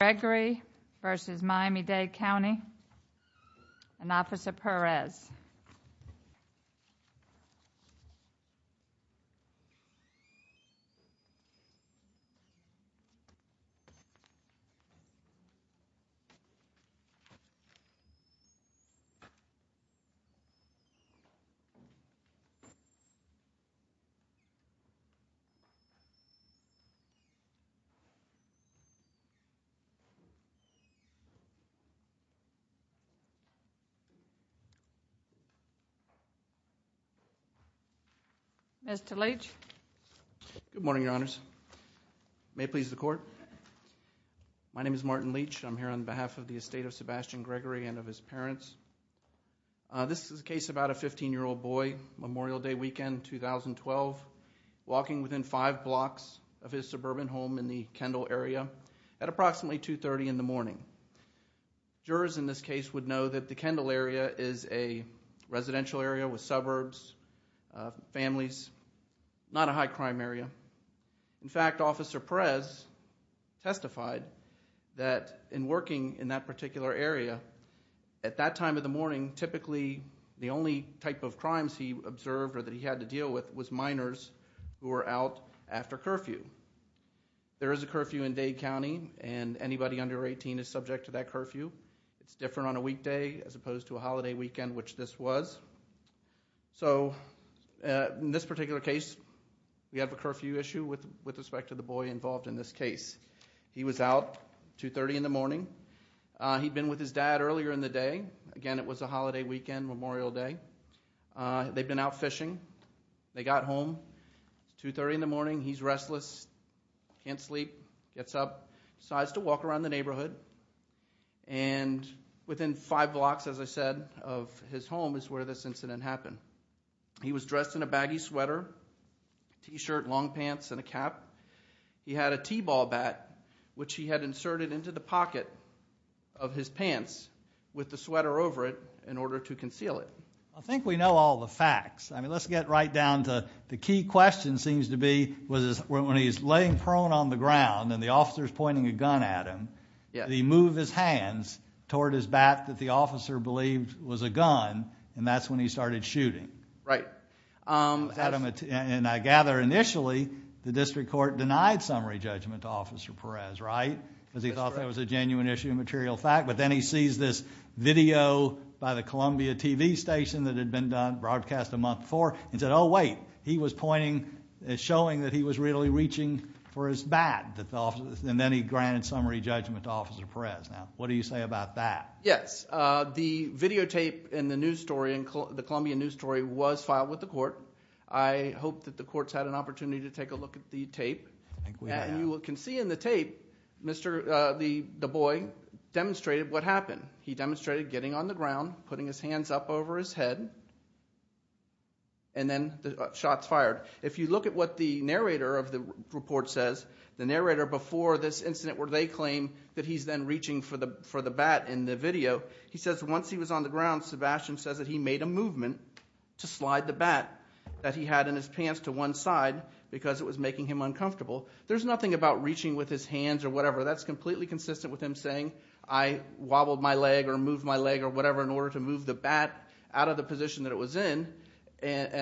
Gregory v. Miami-Dade County and Officer Perez. Good morning, Your Honors. May it please the Court. My name is Martin Leach. I'm here on behalf of the estate of Sebastian Gregory and of his parents. This is a case about a 15-year-old boy, Memorial Day weekend, 2012, walking within five blocks of his suburban home in the Kendall area at approximately 2.30 in the morning. Jurors in this case would know that the Kendall area is a residential area with suburbs, families, not a high-crime area. In fact, Officer Perez testified that in working in that particular area, at that time of the morning, typically the only type of crimes he observed or that he had to deal with was curfew. There is a curfew in Dade County, and anybody under 18 is subject to that curfew. It's different on a weekday as opposed to a holiday weekend, which this was. So in this particular case, we have a curfew issue with respect to the boy involved in this case. He was out 2.30 in the morning. He'd been with his dad earlier in the day. Again, it was a holiday weekend, Memorial Day. They'd been out fishing. They got home 2.30 in the morning. He's restless, can't sleep, gets up, decides to walk around the neighborhood. Within five blocks, as I said, of his home is where this incident happened. He was dressed in a baggy sweater, t-shirt, long pants, and a cap. He had a t-ball bat, which he had inserted into the pocket of his pants with the sweater over it in order to conceal it. I think we know all the facts. Let's get right down to the key question seems to be when he's laying prone on the ground and the officer's pointing a gun at him, he moved his hands toward his back that the officer believed was a gun, and that's when he started shooting. I gather initially, the district court denied summary judgment to Officer Perez, right? Because he thought that was a genuine issue and material fact, but then he sees this video by the Columbia TV station that had been broadcast a month before and said, oh, wait, he was pointing and showing that he was really reaching for his bat, and then he granted summary judgment to Officer Perez. Now, what do you say about that? Yes. The videotape in the news story, the Columbia news story, was filed with the court. I hope that the court's had an opportunity to take a look at the tape. I think we have. You can see in the tape, the boy demonstrated what happened. He demonstrated getting on the ground, putting his hands up over his head, and then the shot's fired. If you look at what the narrator of the report says, the narrator before this incident where they claim that he's then reaching for the bat in the video, he says once he was on the ground, Sebastian says that he made a movement to slide the bat that he had in his pants to one side because it was making him uncomfortable. There's nothing about reaching with his hands or whatever. That's completely consistent with him saying, I wobbled my leg or moved my leg or whatever in order to move the bat out of the position that it was in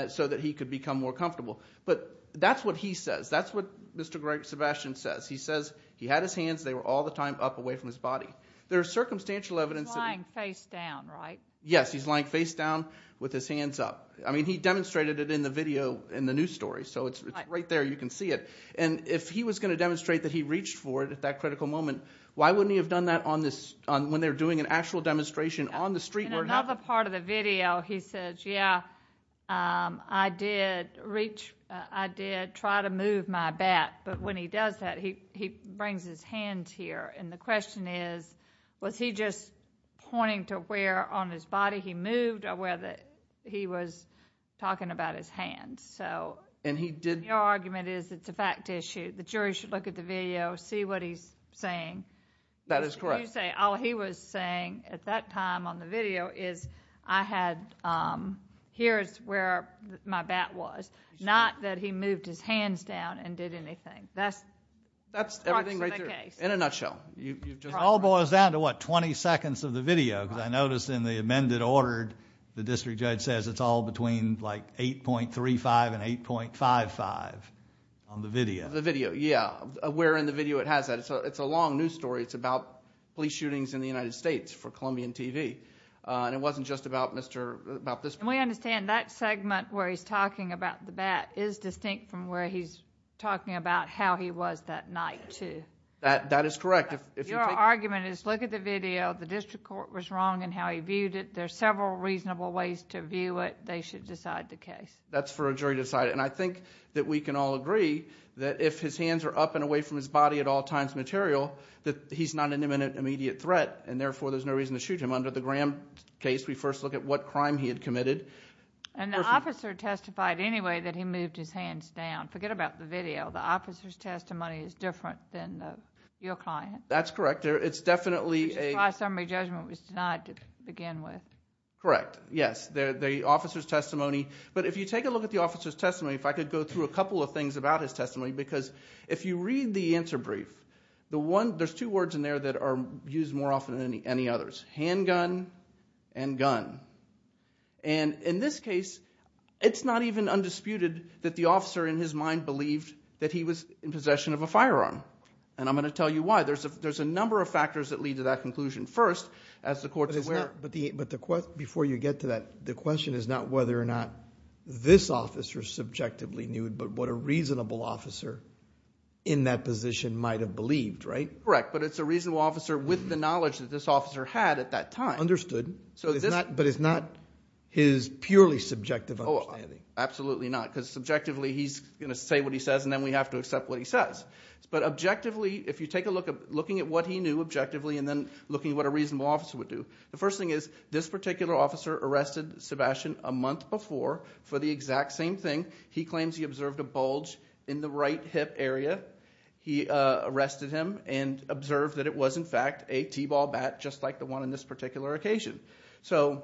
so that he could become more comfortable. But that's what he says. That's what Mr. Sebastian says. He says he had his hands, they were all the time up away from his body. There's circumstantial evidence that he's lying face down with his hands up. He demonstrated it in the video in the news story, so it's right there. You can see it. If he was going to demonstrate that he reached for it at that critical moment, why wouldn't he have done that when they're doing an actual demonstration on the street where it happened? In another part of the video, he says, yeah, I did try to move my bat, but when he does that, he brings his hands here. The question is, was he just pointing to where on his body he moved or whether he was talking about his hands? Your argument is it's a fact issue. The jury should look at the video, see what he's saying. That is correct. All he was saying at that time on the video is I had, here's where my bat was. Not that he moved his hands down and did anything. That's part of the case. In a nutshell. It all boils down to what, twenty seconds of the video? I noticed in the amended ordered, the district judge says it's all between 8.35 and 8.55 on the video. The video, yeah. Where in the video it has that. It's a long news story. It's about police shootings in the United States for Columbian TV. It wasn't just about this. We understand that segment where he's talking about the bat is distinct from where he's talking about how he was that night, too. That is correct. Your argument is look at the video. The district court was wrong in how he viewed it. There's several reasonable ways to view it. They should decide the case. That's for a jury to decide. I think that we can all agree that if his hands are up and away from his body at all times material, that he's not an immediate threat and therefore there's no reason to shoot him. Under the Graham case, we first look at what crime he had committed. The officer testified anyway that he moved his hands down. Forget about the video. The officer's testimony is different than your client. That's correct. It's definitely a... Which is why summary judgment was denied to begin with. Correct. Yes. The officer's testimony. But if you take a look at the officer's testimony, if I could go through a couple of things about his testimony because if you read the answer brief, there's two words in there that are used more often than any others, handgun and gun. In this case, it's not even undisputed that the officer in his mind believed that he was in possession of a firearm. I'm going to tell you why. There's a number of factors that lead to that conclusion. First, as the court's aware... Before you get to that, the question is not whether or not this officer subjectively knew but what a reasonable officer in that position might have believed, right? Correct, but it's a reasonable officer with the knowledge that this officer had at that time. He understood but it's not his purely subjective understanding. Absolutely not because subjectively he's going to say what he says and then we have to accept what he says. But objectively, if you take a look at looking at what he knew objectively and then looking at what a reasonable officer would do, the first thing is this particular officer arrested Sebastian a month before for the exact same thing. He claims he observed a bulge in the right hip area. He arrested him and observed that it was in fact a T-ball bat just like the one in this particular occasion. So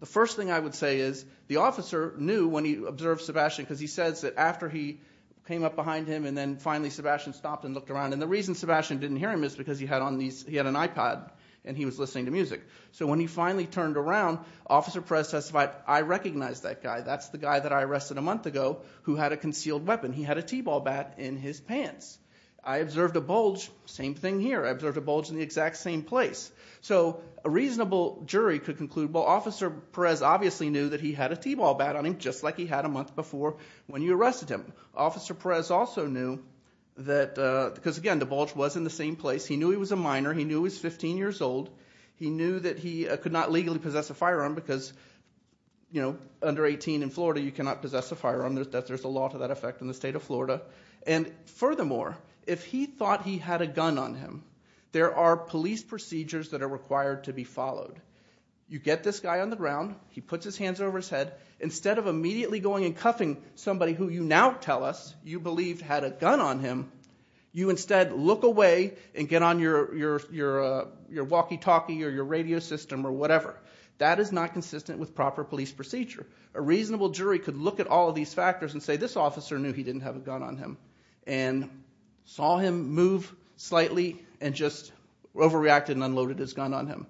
the first thing I would say is the officer knew when he observed Sebastian because he says that after he came up behind him and then finally Sebastian stopped and looked around. And the reason Sebastian didn't hear him is because he had an iPad and he was listening to music. So when he finally turned around, Officer Perez testified, I recognize that guy. That's the guy that I arrested a month ago who had a concealed weapon. He had a T-ball bat in his pants. I observed a bulge. Same thing here. I observed a bulge in the exact same place. So a reasonable jury could conclude, well, Officer Perez obviously knew that he had a T-ball bat on him just like he had a month before when you arrested him. Officer Perez also knew that, because again, the bulge was in the same place. He knew he was a minor. He knew he was 15 years old. He knew that he could not legally possess a firearm because, you know, under 18 in Florida you cannot possess a firearm. There's a law to that effect in the state of Florida. And furthermore, if he thought he had a gun on him, there are police procedures that are required to be followed. You get this guy on the ground. He puts his hands over his head. Instead of immediately going and cuffing somebody who you now tell us you believed had a gun on him, you instead look away and get on your walkie-talkie or your radio system or whatever. That is not consistent with proper police procedure. A reasonable jury could look at all of these factors and say, this officer knew he didn't have a gun on him and saw him move slightly and just overreacted and unloaded his gun on him.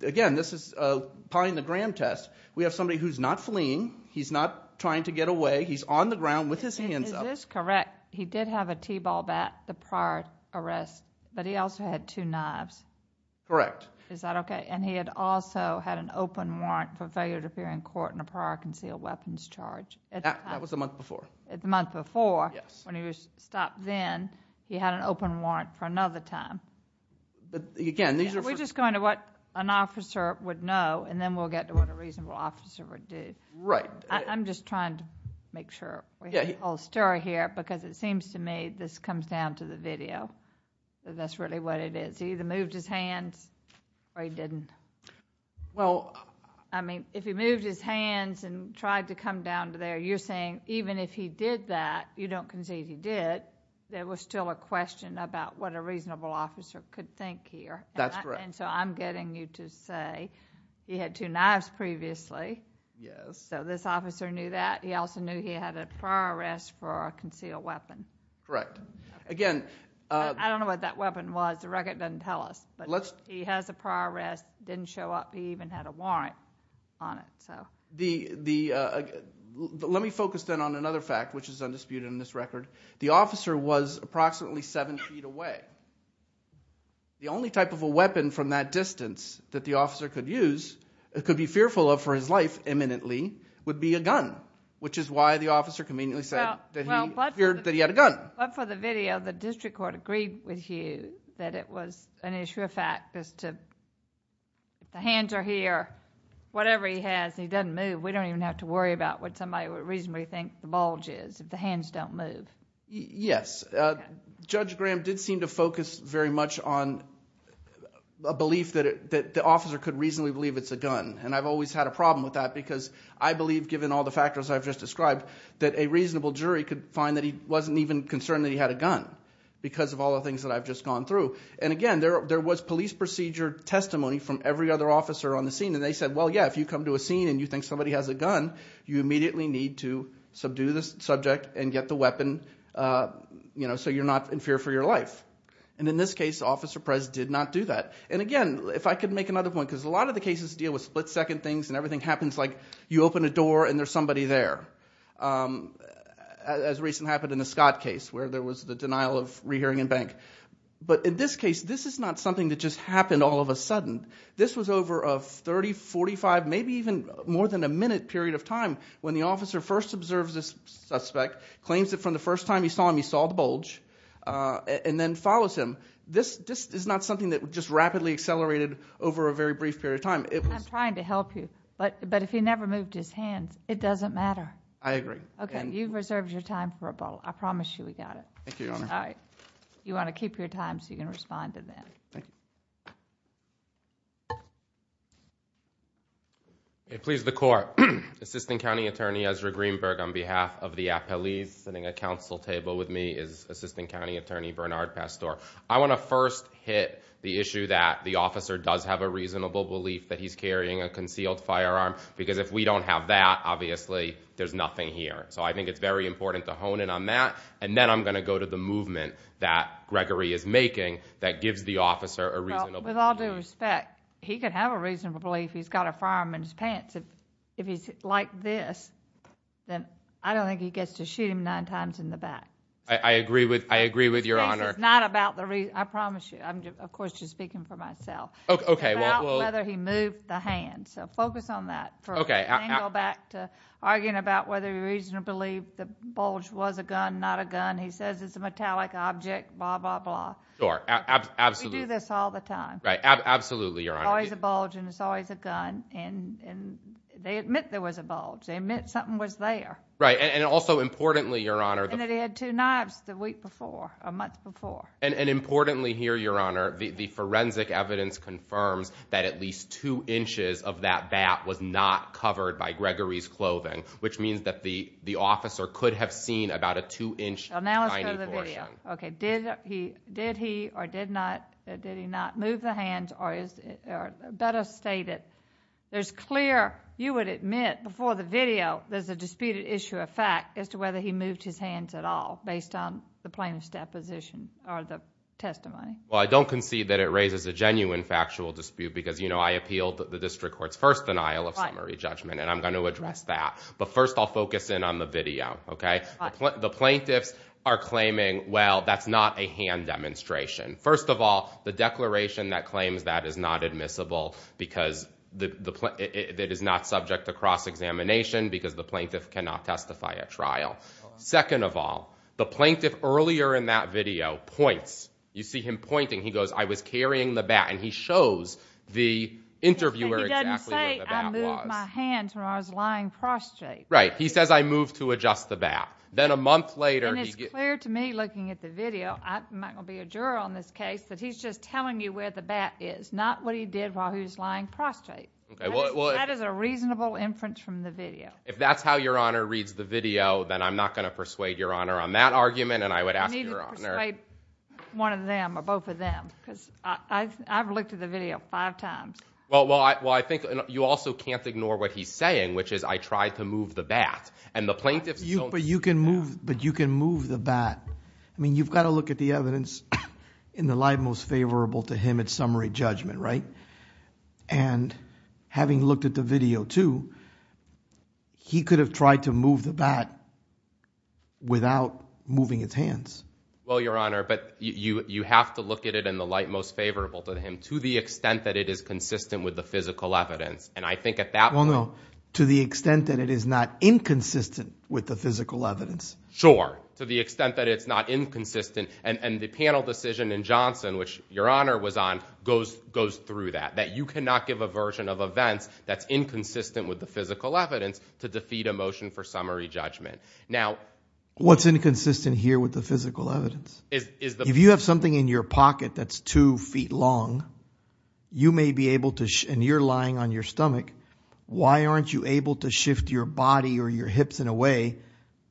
Again, this is applying the Graham test. We have somebody who's not fleeing. He's not trying to get away. He's on the ground with his hands up. Is this correct? He did have a T-ball bat the prior arrest, but he also had two knives. Correct. Is that okay? And he had also had an open warrant for failure to appear in court in a prior concealed weapons charge. That was the month before. The month before. Yes. When he was stopped then, he had an open warrant for another time. Again, these are for- We're just going to what an officer would know, and then we'll get to what a reasonable officer would do. Right. I'm just trying to make sure we have the whole story here because it seems to me this comes down to the video. That's really what it is. He either moved his hands or he didn't. If he moved his hands and tried to come down to there, you're saying even if he did that, you don't concede he did, there was still a question about what a reasonable officer could think here. That's correct. I'm getting you to say he had two knives previously. Yes. This officer knew that. He also knew he had a prior arrest for a concealed weapon. Correct. Again- I don't know what that weapon was. The record doesn't tell us. He has a prior arrest. It didn't show up. He even had a warrant on it. Let me focus then on another fact, which is undisputed in this record. The officer was approximately seven feet away. The only type of a weapon from that distance that the officer could use, could be fearful of for his life imminently, would be a gun, which is why the officer conveniently said that he feared that he had a gun. For the video, the district court agreed with you that it was an issue of fact as to the hands are here, whatever he has, he doesn't move. We don't even have to worry about what somebody would reasonably think the bulge is if the hands don't move. Yes. Judge Graham did seem to focus very much on a belief that the officer could reasonably believe it's a gun. I've always had a problem with that because I believe, given all the factors I've just described, that a reasonable jury could find that he wasn't even concerned that he had a gun because of all the things that I've just gone through. Again, there was police procedure testimony from every other officer on the scene. They said, yes, if you come to a scene and you think somebody has a gun, you immediately need to subdue the subject and get the weapon so you're not in fear for your life. In this case, Officer Prez did not do that. Again, if I could make another point, because a lot of the cases deal with split second things and everything happens like you open a door and there's somebody there, as recently happened in the Scott case where there was the denial of rehearing in bank. But in this case, this is not something that just happened all of a sudden. This was over a 30, 45, maybe even more than a minute period of time when the officer first observes the suspect, claims that from the first time he saw him he saw the bulge, and then follows him. This is not something that just rapidly accelerated over a very brief period of time. I'm trying to help you, but if he never moved his hands, it doesn't matter. I agree. Okay. You've reserved your time for a vote. I promise you we got it. Thank you, Your Honor. All right. You want to keep your time so you can respond to that. Thank you. Please, the court. Assistant County Attorney Ezra Greenberg on behalf of the appellees sitting at council table with me is Assistant County Attorney Bernard Pastore. I want to first hit the issue that the officer does have a reasonable belief that he's carrying a concealed firearm, because if we don't have that, obviously, there's nothing here. So I think it's very important to hone in on that, and then I'm going to go to the movement that Gregory is making that gives the officer a reasonable belief. Well, with all due respect, he could have a reasonable belief he's got a firearm in his pants. If he's like this, then I don't think he gets to shoot him nine times in the back. I agree with Your Honor. It's not about the reason. I promise you. I'm, of course, just speaking for myself. Okay. Well. It's about whether he moved the hand. So focus on that. Okay. You can't go back to arguing about whether you reasonably believe the bulge was a gun, not a gun. He says it's a metallic object, blah, blah, blah. Sure. Absolutely. We do this all the time. Right. Absolutely, Your Honor. It's always a bulge, and it's always a gun. And they admit there was a bulge. They admit something was there. Right. And also, importantly, Your Honor. And that he had two knives the week before, a month before. And importantly here, Your Honor, the forensic evidence confirms that at least two inches of that bat was not covered by Gregory's clothing, which means that the officer could have seen about a two-inch tiny portion. Well, now let's go to the video. Okay. Did he or did not, did he not move the hands or is it better stated? There's clear, you would admit, before the video, there's a disputed issue of fact as to whether he moved his hands at all based on the plaintiff's deposition or the testimony. Well, I don't concede that it raises a genuine factual dispute because, you know, I appealed the district court's first denial of summary judgment. Right. And I'm going to address that. But first, I'll focus in on the video, okay? Right. The plaintiffs are claiming, well, that's not a hand demonstration. First of all, the declaration that claims that is not admissible because it is not subject to cross-examination because the plaintiff cannot testify at trial. Second of all, the plaintiff earlier in that video points. You see him pointing. He goes, I was carrying the bat. And he shows the interviewer exactly where the bat was. He doesn't say, I moved my hands when I was lying prostrate. Right. He says, I moved to adjust the bat. Then a month later... And it's clear to me, looking at the video, I'm not going to be a juror on this case, that he's just telling you where the bat is, not what he did while he was lying prostrate. That is a reasonable inference from the video. If that's how Your Honor reads the video, then I'm not going to persuade Your Honor on that argument. And I would ask Your Honor... You need to persuade one of them or both of them. Because I've looked at the video five times. Well, I think you also can't ignore what he's saying, which is, I tried to move the bat. And the plaintiffs don't... But you can move the bat. I mean, you've got to look at the evidence in the light most favorable to him at summary judgment, right? And having looked at the video, too, he could have tried to move the bat without moving his hands. Well, Your Honor, but you have to look at it in the light most favorable to him to the extent that it is consistent with the physical evidence. And I think at that point... Well, no, to the extent that it is not inconsistent with the physical evidence. Sure. To the extent that it's not inconsistent. And the panel decision in Johnson, which Your Honor was on, goes through that, that you cannot give a version of events that's inconsistent with the physical evidence to defeat a motion for summary judgment. Now... What's inconsistent here with the physical evidence? If you have something in your pocket that's two feet long, you may be able to... And you're lying on your stomach. Why aren't you able to shift your body or your hips in a way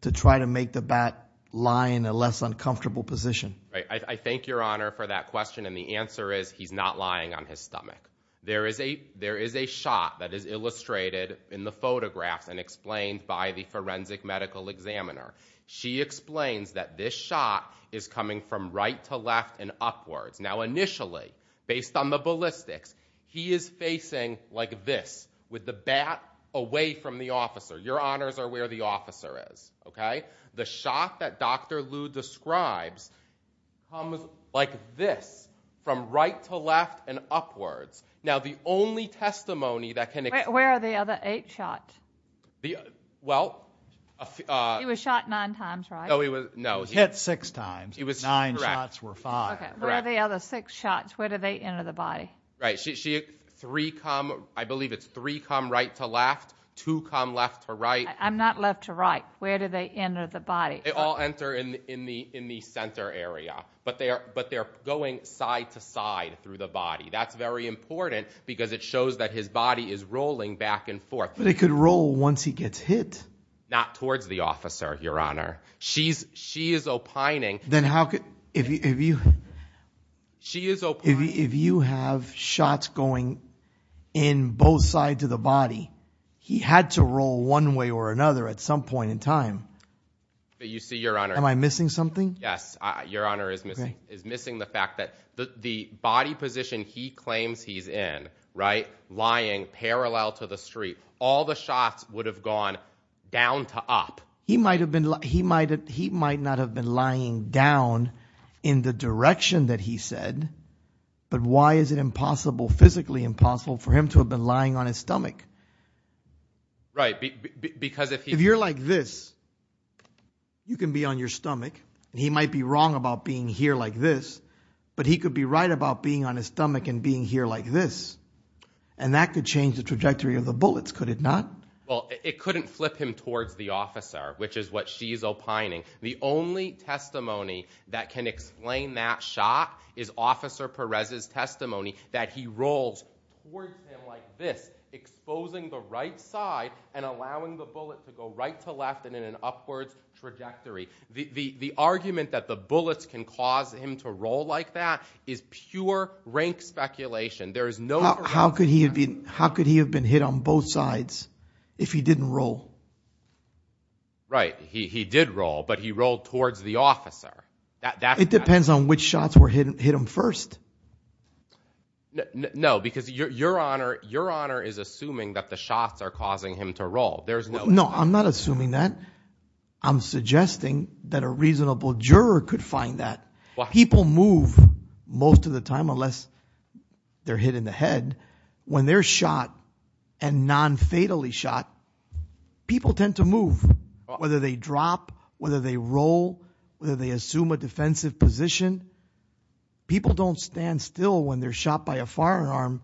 to try to make the bat lie in a less uncomfortable position? I thank Your Honor for that question, and the answer is he's not lying on his stomach. There is a shot that is illustrated in the photographs and explained by the forensic medical examiner. She explains that this shot is coming from right to left and upwards. Now, initially, based on the ballistics, he is facing like this, with the bat away from the officer. Your honors are where the officer is, okay? The shot that Dr. Lu describes comes like this, from right to left and upwards. Now, the only testimony that can explain... Where are the other eight shots? Well... He was shot nine times, right? No, he was... He was hit six times. Nine shots were five. Okay, where are the other six shots? Where do they enter the body? Right, three come... I believe it's three come right to left, two come left to right. I'm not left to right. Where do they enter the body? They all enter in the center area, but they're going side to side through the body. That's very important because it shows that his body is rolling back and forth. But it could roll once he gets hit. Not towards the officer, Your Honor. She is opining... Then how could... She is opining... If you have shots going in both sides of the body, he had to roll one way or another at some point in time. But you see, Your Honor... Am I missing something? Yes. Your Honor is missing the fact that the body position he claims he's in, right? Lying parallel to the street. All the shots would have gone down to up. He might not have been lying down in the direction that he said, but why is it physically impossible for him to have been lying on his stomach? Right, because if he... If you're like this, you can be on your stomach, and he might be wrong about being here like this, but he could be right about being on his stomach and being here like this, and that could change the trajectory of the bullets, could it not? Well, it couldn't flip him towards the officer, which is what she's opining. The only testimony that can explain that shot is Officer Perez's testimony that he rolls towards him like this, exposing the right side and allowing the bullet to go right to left and in an upwards trajectory. The argument that the bullets can cause him to roll like that is pure rank speculation. How could he have been hit on both sides if he didn't roll? Right, he did roll, but he rolled towards the officer. It depends on which shots hit him first. No, because Your Honor is assuming that the shots are causing him to roll. No, I'm not assuming that. I'm suggesting that a reasonable juror could find that. People move most of the time unless they're hit in the head. When they're shot and non-fatally shot, people tend to move, whether they drop, whether they roll, whether they assume a defensive position. People don't stand still when they're shot by a firearm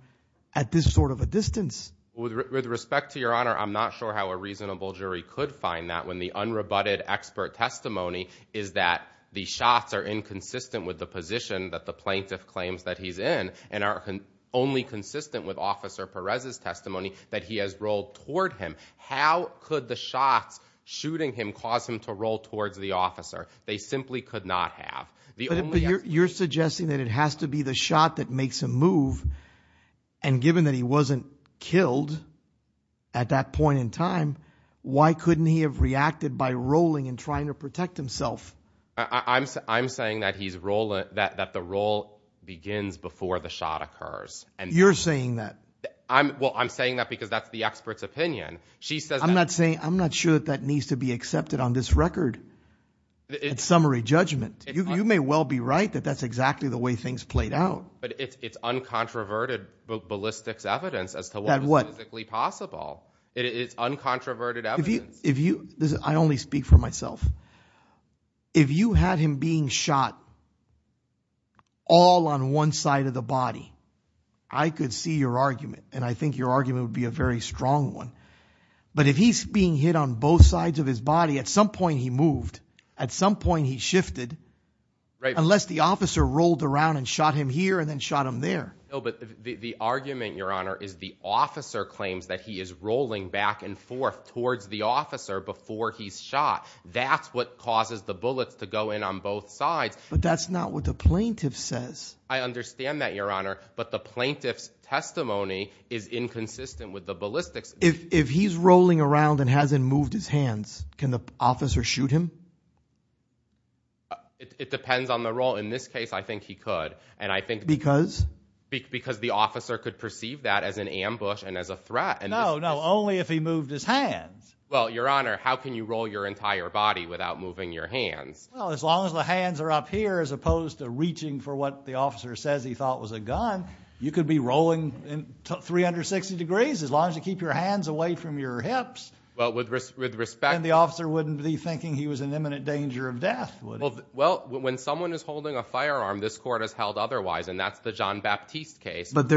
at this sort of a distance. With respect to Your Honor, I'm not sure how a reasonable jury could find that when the unrebutted expert testimony is that the shots are inconsistent with the position that the plaintiff claims that he's in and are only consistent with Officer Perez's testimony that he has rolled toward him. How could the shots shooting him cause him to roll towards the officer? They simply could not have. But you're suggesting that it has to be the shot that makes him move, and given that he wasn't killed at that point in time, why couldn't he have reacted by rolling and trying to protect himself? I'm saying that the roll begins before the shot occurs. You're saying that? Well, I'm saying that because that's the expert's opinion. I'm not sure that that needs to be accepted on this record at summary judgment. You may well be right that that's exactly the way things played out. But it's uncontroverted ballistics evidence as to what is physically possible. It is uncontroverted evidence. I only speak for myself. If you had him being shot all on one side of the body, I could see your argument, and I think your argument would be a very strong one. But if he's being hit on both sides of his body, at some point he moved. At some point he shifted. Unless the officer rolled around and shot him here and then shot him there. No, but the argument, Your Honor, is the officer claims that he is rolling back and forth towards the officer before he's shot. That's what causes the bullets to go in on both sides. But that's not what the plaintiff says. I understand that, Your Honor, but the plaintiff's testimony is inconsistent with the ballistics. If he's rolling around and hasn't moved his hands, can the officer shoot him? It depends on the roll. In this case, I think he could. Because? Because the officer could perceive that as an ambush and as a threat. No, no, only if he moved his hands. Well, Your Honor, how can you roll your entire body without moving your hands? Well, as long as the hands are up here, as opposed to reaching for what the officer says he thought was a gun, you could be rolling 360 degrees as long as you keep your hands away from your hips. Well, with respect— Well, when someone is holding a firearm, this court has held otherwise, and that's the Jean-Baptiste case. But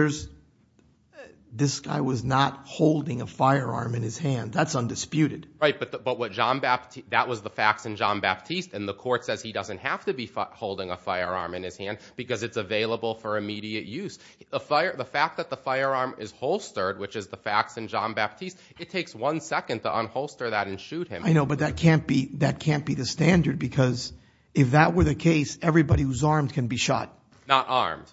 this guy was not holding a firearm in his hand. That's undisputed. Right, but that was the facts in Jean-Baptiste, and the court says he doesn't have to be holding a firearm in his hand because it's available for immediate use. The fact that the firearm is holstered, which is the facts in Jean-Baptiste, it takes one second to unholster that and shoot him. I know, but that can't be the standard because if that were the case, everybody who's armed can be shot. Not armed.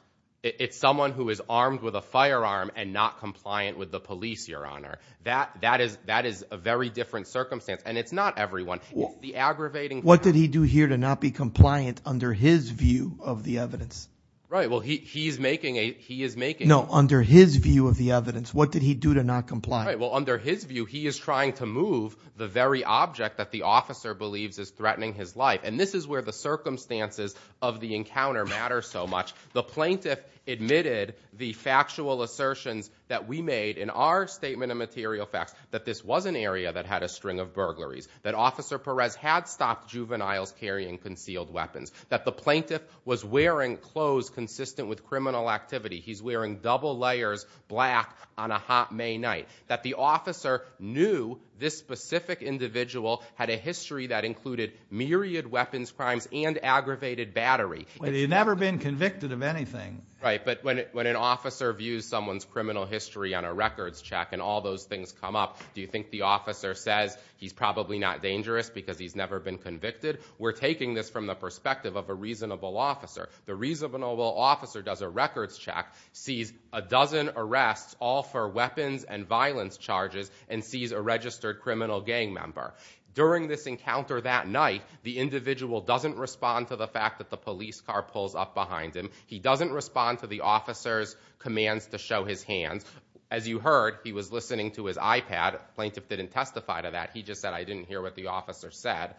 It's someone who is armed with a firearm and not compliant with the police, Your Honor. That is a very different circumstance, and it's not everyone. It's the aggravating— What did he do here to not be compliant under his view of the evidence? Right, well, he is making a— No, under his view of the evidence. What did he do to not comply? Right, well, under his view, he is trying to move the very object that the officer believes is threatening his life, and this is where the circumstances of the encounter matter so much. The plaintiff admitted the factual assertions that we made in our statement of material facts, that this was an area that had a string of burglaries, that Officer Perez had stopped juveniles carrying concealed weapons, that the plaintiff was wearing clothes consistent with criminal activity. He's wearing double layers, black, on a hot May night. That the officer knew this specific individual had a history that included myriad weapons crimes and aggravated battery. But he had never been convicted of anything. Right, but when an officer views someone's criminal history on a records check and all those things come up, do you think the officer says, he's probably not dangerous because he's never been convicted? We're taking this from the perspective of a reasonable officer. The reasonable officer does a records check, sees a dozen arrests, all for weapons and violence charges, and sees a registered criminal gang member. During this encounter that night, the individual doesn't respond to the fact that the police car pulls up behind him. He doesn't respond to the officer's commands to show his hands. As you heard, he was listening to his iPad. The plaintiff didn't testify to that. He just said, I didn't hear what the officer said.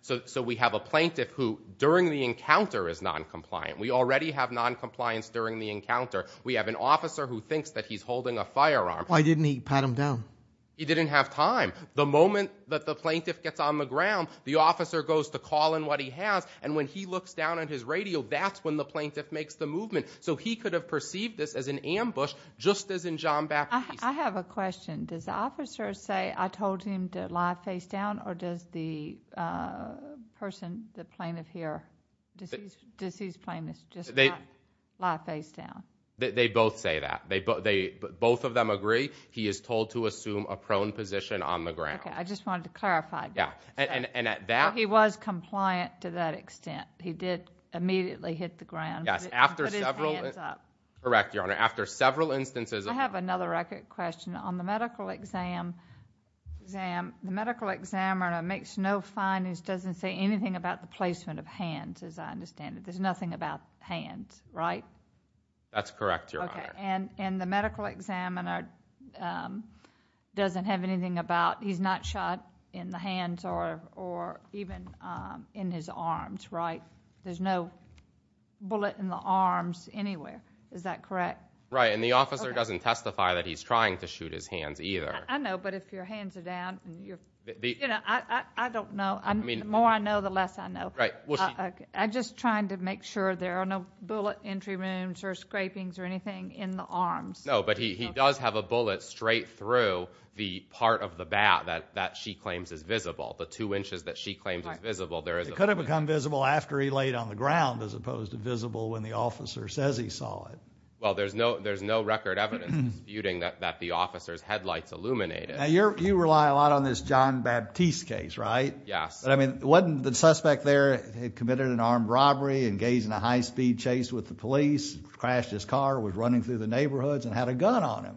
So we have a plaintiff who, during the encounter, is noncompliant. We already have noncompliance during the encounter. We have an officer who thinks that he's holding a firearm. Why didn't he pat him down? He didn't have time. The moment that the plaintiff gets on the ground, the officer goes to call in what he has, and when he looks down at his radio, that's when the plaintiff makes the movement. So he could have perceived this as an ambush, just as in John Baptist. I have a question. Does the officer say, I told him to lie face down, or does the person, the plaintiff here, does his plaintiff just lie face down? They both say that. Both of them agree. He is told to assume a prone position on the ground. Okay, I just wanted to clarify. Yeah, and at that— He was compliant to that extent. He did immediately hit the ground. Yes, after several— Put his hands up. Correct, Your Honor. After several instances— I have another question. On the medical exam, the medical examiner makes no findings, doesn't say anything about the placement of hands, as I understand it. There's nothing about hands, right? That's correct, Your Honor. Okay, and the medical examiner doesn't have anything about— he's not shot in the hands or even in his arms, right? There's no bullet in the arms anywhere. Is that correct? Right, and the officer doesn't testify that he's trying to shoot his hands either. I know, but if your hands are down and you're— I don't know. The more I know, the less I know. I'm just trying to make sure there are no bullet entry wounds or scrapings or anything in the arms. No, but he does have a bullet straight through the part of the bat that she claims is visible, the two inches that she claims is visible. It could have become visible after he laid on the ground as opposed to visible when the officer says he saw it. Well, there's no record evidence disputing that the officer's headlights illuminated. Now, you rely a lot on this John Baptiste case, right? Yes. Wasn't the suspect there committed an armed robbery, engaged in a high-speed chase with the police, crashed his car, was running through the neighborhoods, and had a gun on him?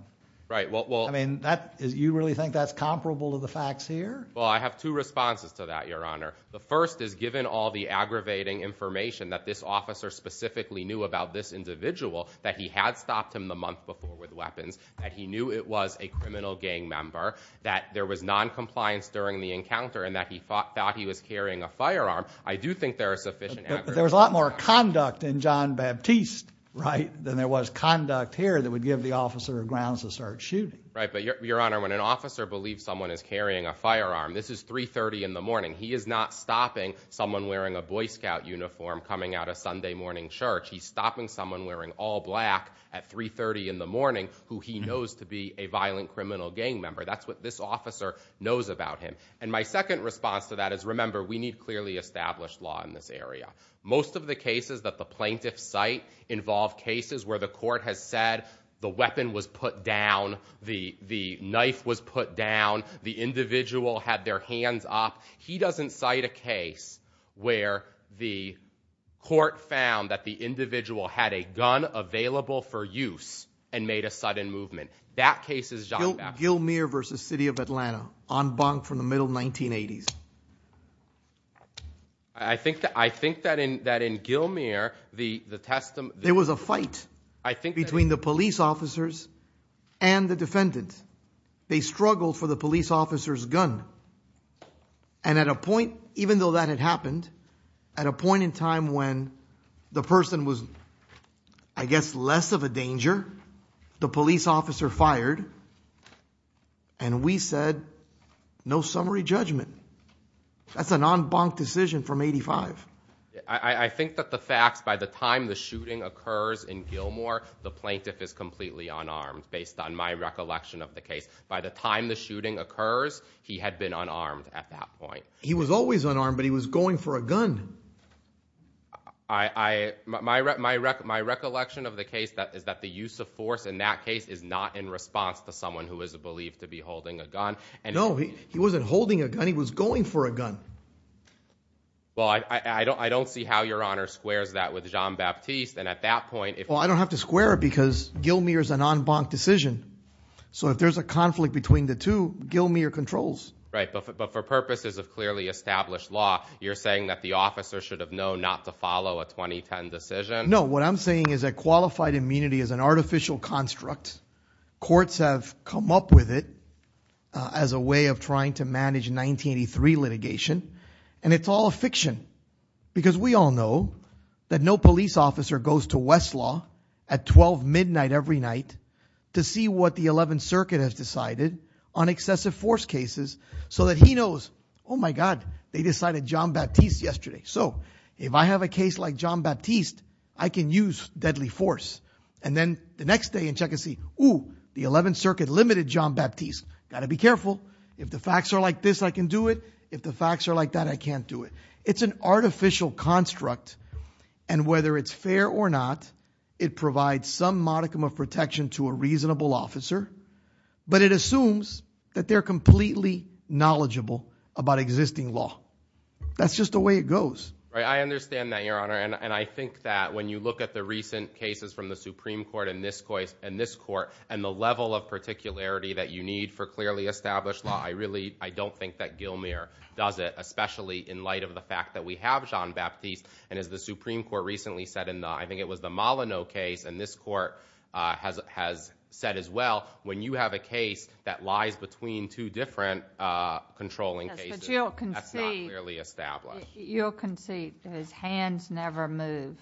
Right, well— I mean, you really think that's comparable to the facts here? Well, I have two responses to that, Your Honor. The first is, given all the aggravating information that this officer specifically knew about this individual, that he had stopped him the month before with weapons, that he knew it was a criminal gang member, that there was noncompliance during the encounter, and that he thought he was carrying a firearm, I do think there are sufficient— But there was a lot more conduct in John Baptiste, right, than there was conduct here that would give the officer grounds to start shooting. Right, but, Your Honor, when an officer believes someone is carrying a firearm, this is 3.30 in the morning. He is not stopping someone wearing a Boy Scout uniform coming out of Sunday morning church. He's stopping someone wearing all black at 3.30 in the morning, who he knows to be a violent criminal gang member. That's what this officer knows about him. And my second response to that is, remember, we need clearly established law in this area. Most of the cases that the plaintiffs cite involve cases where the court has said the weapon was put down, the knife was put down, the individual had their hands up. He doesn't cite a case where the court found that the individual had a gun available for use and made a sudden movement. That case is John Baptiste. Gilmour v. City of Atlanta, en banc from the middle 1980s. I think that in Gilmour, the testimony— There was a fight between the police officers and the defendants. They struggled for the police officer's gun. And at a point, even though that had happened, at a point in time when the person was, I guess, less of a danger, the police officer fired, and we said, no summary judgment. That's an en banc decision from 1985. I think that the facts, by the time the shooting occurs in Gilmour, the plaintiff is completely unarmed, based on my recollection of the case. By the time the shooting occurs, he had been unarmed at that point. He was always unarmed, but he was going for a gun. My recollection of the case is that the use of force in that case is not in response to someone who is believed to be holding a gun. No, he wasn't holding a gun. He was going for a gun. Well, I don't see how Your Honor squares that with John Baptiste. Well, I don't have to square it because Gilmour is an en banc decision. So if there's a conflict between the two, Gilmour controls. Right, but for purposes of clearly established law, you're saying that the officer should have known not to follow a 2010 decision? No, what I'm saying is that qualified immunity is an artificial construct. Courts have come up with it as a way of trying to manage 1983 litigation, and it's all a fiction because we all know that no police officer goes to Westlaw at 12 midnight every night to see what the 11th Circuit has decided on excessive force cases so that he knows, oh my God, they decided John Baptiste yesterday. So if I have a case like John Baptiste, I can use deadly force. And then the next day in check and see, ooh, the 11th Circuit limited John Baptiste. Got to be careful. If the facts are like this, I can do it. If the facts are like that, I can't do it. It's an artificial construct, and whether it's fair or not, it provides some modicum of protection to a reasonable officer, but it assumes that they're completely knowledgeable about existing law. That's just the way it goes. I understand that, Your Honor, and I think that when you look at the recent cases from the Supreme Court and this court and the level of particularity that you need for clearly established law, I really don't think that Gilmour does it, especially in light of the fact that we have John Baptiste, and as the Supreme Court recently said in the, I think it was the Molyneux case, and this court has said as well, when you have a case that lies between two different controlling cases, that's not clearly established. But you'll concede that his hands never move,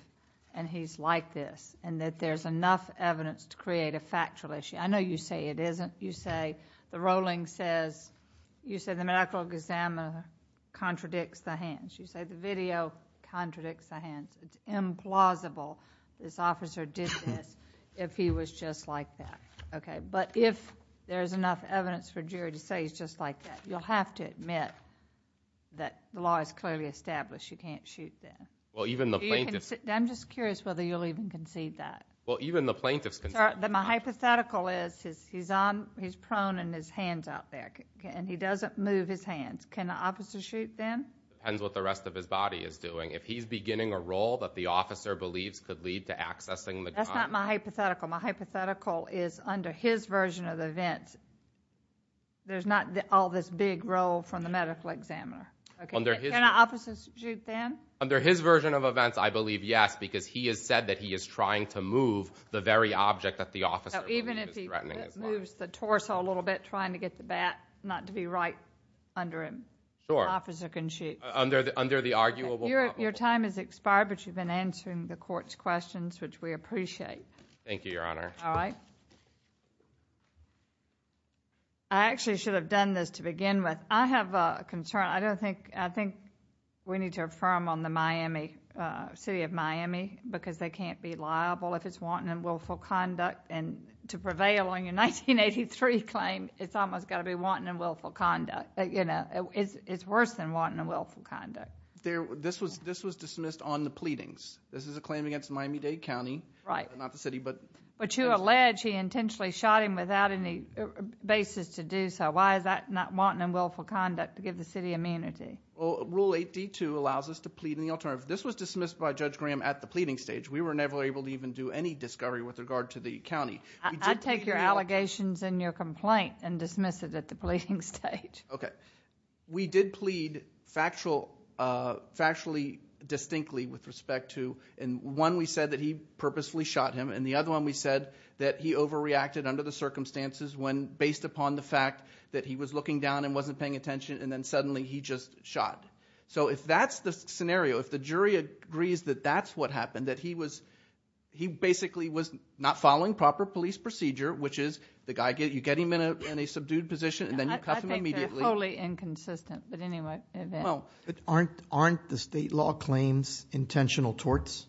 and he's like this, and that there's enough evidence to create a factual issue. I know you say it isn't. You say the rolling says, you say the medical exam contradicts the hands. You say the video contradicts the hands. It's implausible this officer did this if he was just like that. But if there's enough evidence for jury to say he's just like that, you'll have to admit that the law is clearly established, you can't shoot them. I'm just curious whether you'll even concede that. Well, even the plaintiff's consent. My hypothetical is he's prone in his hands out there, and he doesn't move his hands. Can an officer shoot them? Depends what the rest of his body is doing. If he's beginning a role that the officer believes could lead to accessing the gun. That's not my hypothetical. My hypothetical is under his version of events, there's not all this big role from the medical examiner. Can an officer shoot them? Under his version of events, I believe yes, because he has said that he is trying to move the very object that the officer is threatening. Even if he moves the torso a little bit trying to get the bat not to be right under him, an officer can shoot. Under the arguable problem. Your time has expired, but you've been answering the court's questions, which we appreciate. Thank you, Your Honor. All right. I actually should have done this to begin with. I have a concern. I think we need to affirm on the city of Miami, because they can't be liable if it's wanton and willful conduct, and to prevail on your 1983 claim, it's almost got to be wanton and willful conduct. It's worse than wanton and willful conduct. This was dismissed on the pleadings. This is a claim against Miami-Dade County, not the city. But you allege he intentionally shot him without any basis to do so. Why is that not wanton and willful conduct to give the city immunity? Rule 8D2 allows us to plead in the alternative. This was dismissed by Judge Graham at the pleading stage. We were never able to even do any discovery with regard to the county. I take your allegations and your complaint and dismiss it at the pleading stage. Okay. We did plead factually distinctly with respect to, and one we said that he purposefully shot him, and the other one we said that he overreacted under the circumstances based upon the fact that he was looking down and wasn't paying attention, and then suddenly he just shot. So if that's the scenario, if the jury agrees that that's what happened, that he basically was not following proper police procedure, which is you get him in a subdued position and then you cuff him immediately. I think they're wholly inconsistent, but anyway. Aren't the state law claims intentional torts?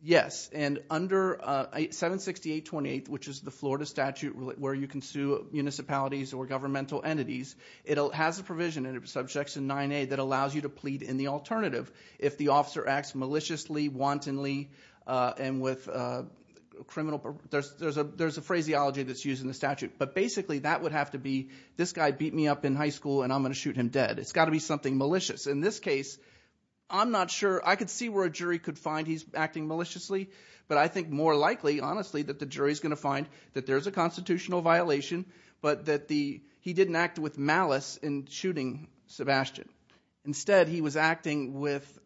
Yes. And under 76828, which is the Florida statute, where you can sue municipalities or governmental entities, it has a provision in Subjection 9A that allows you to plead in the alternative if the officer acts maliciously, wantonly, and with a criminal. There's a phraseology that's used in the statute, but basically that would have to be, this guy beat me up in high school and I'm going to shoot him dead. It's got to be something malicious. In this case, I'm not sure. I could see where a jury could find he's acting maliciously, but I think more likely, honestly, that the jury's going to find that there's a constitutional violation, but that he didn't act with malice in shooting Sebastian. Instead, he was acting with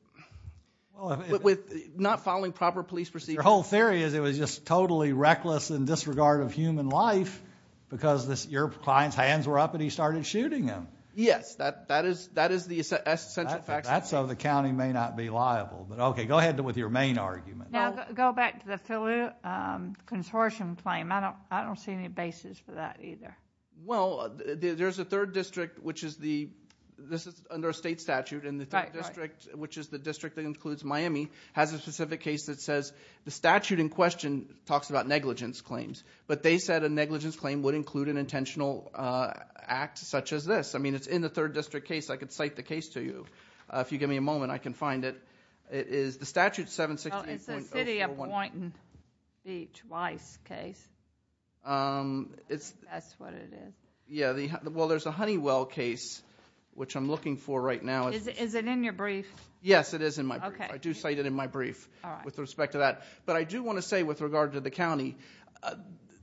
not following proper police procedure. Your whole theory is it was just totally reckless in disregard of human life because your client's hands were up and he started shooting him. Yes, that is the essential fact. That's so the county may not be liable. Okay, go ahead with your main argument. Now, go back to the Philly consortium claim. I don't see any basis for that either. Well, there's a third district, which is under a state statute, and the third district, which is the district that includes Miami, has a specific case that says the statute in question talks about negligence claims, but they said a negligence claim would include an intentional act such as this. I mean, it's in the third district case. I could cite the case to you. If you give me a moment, I can find it. It is the statute 716.041... Well, it's the city of Poynton Beach Weiss case. That's what it is. Yeah, well, there's a Honeywell case, which I'm looking for right now. Is it in your brief? Yes, it is in my brief. I do cite it in my brief with respect to that, but I do want to say with regard to the county,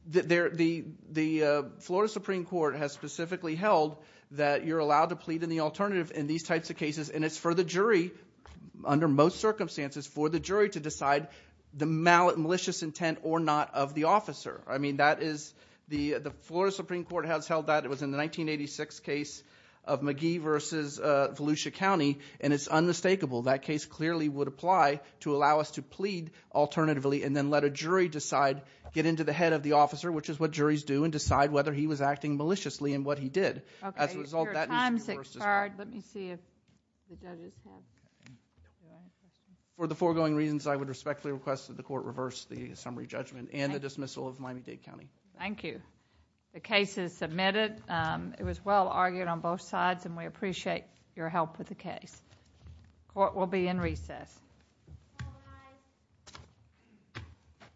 the Florida Supreme Court has specifically held that you're allowed to plead in the alternative in these types of cases, and it's for the jury, under most circumstances, for the jury to decide the malicious intent or not of the officer. I mean, the Florida Supreme Court has held that. It was in the 1986 case of Magee v. Volusia County, and it's unmistakable. That case clearly would apply to allow us to plead alternatively and then let a jury decide, get into the head of the officer, which is what juries do, and decide whether he was acting maliciously in what he did. As a result, that needs to be reversed as well. Okay, your time's expired. Let me see if the judges have... For the foregoing reasons, I would respectfully request that the court reverse the summary judgment and the dismissal of Miami-Dade County. Thank you. The case is submitted. It was well-argued on both sides, and we appreciate your help with the case. Court will be in recess. Bye-bye.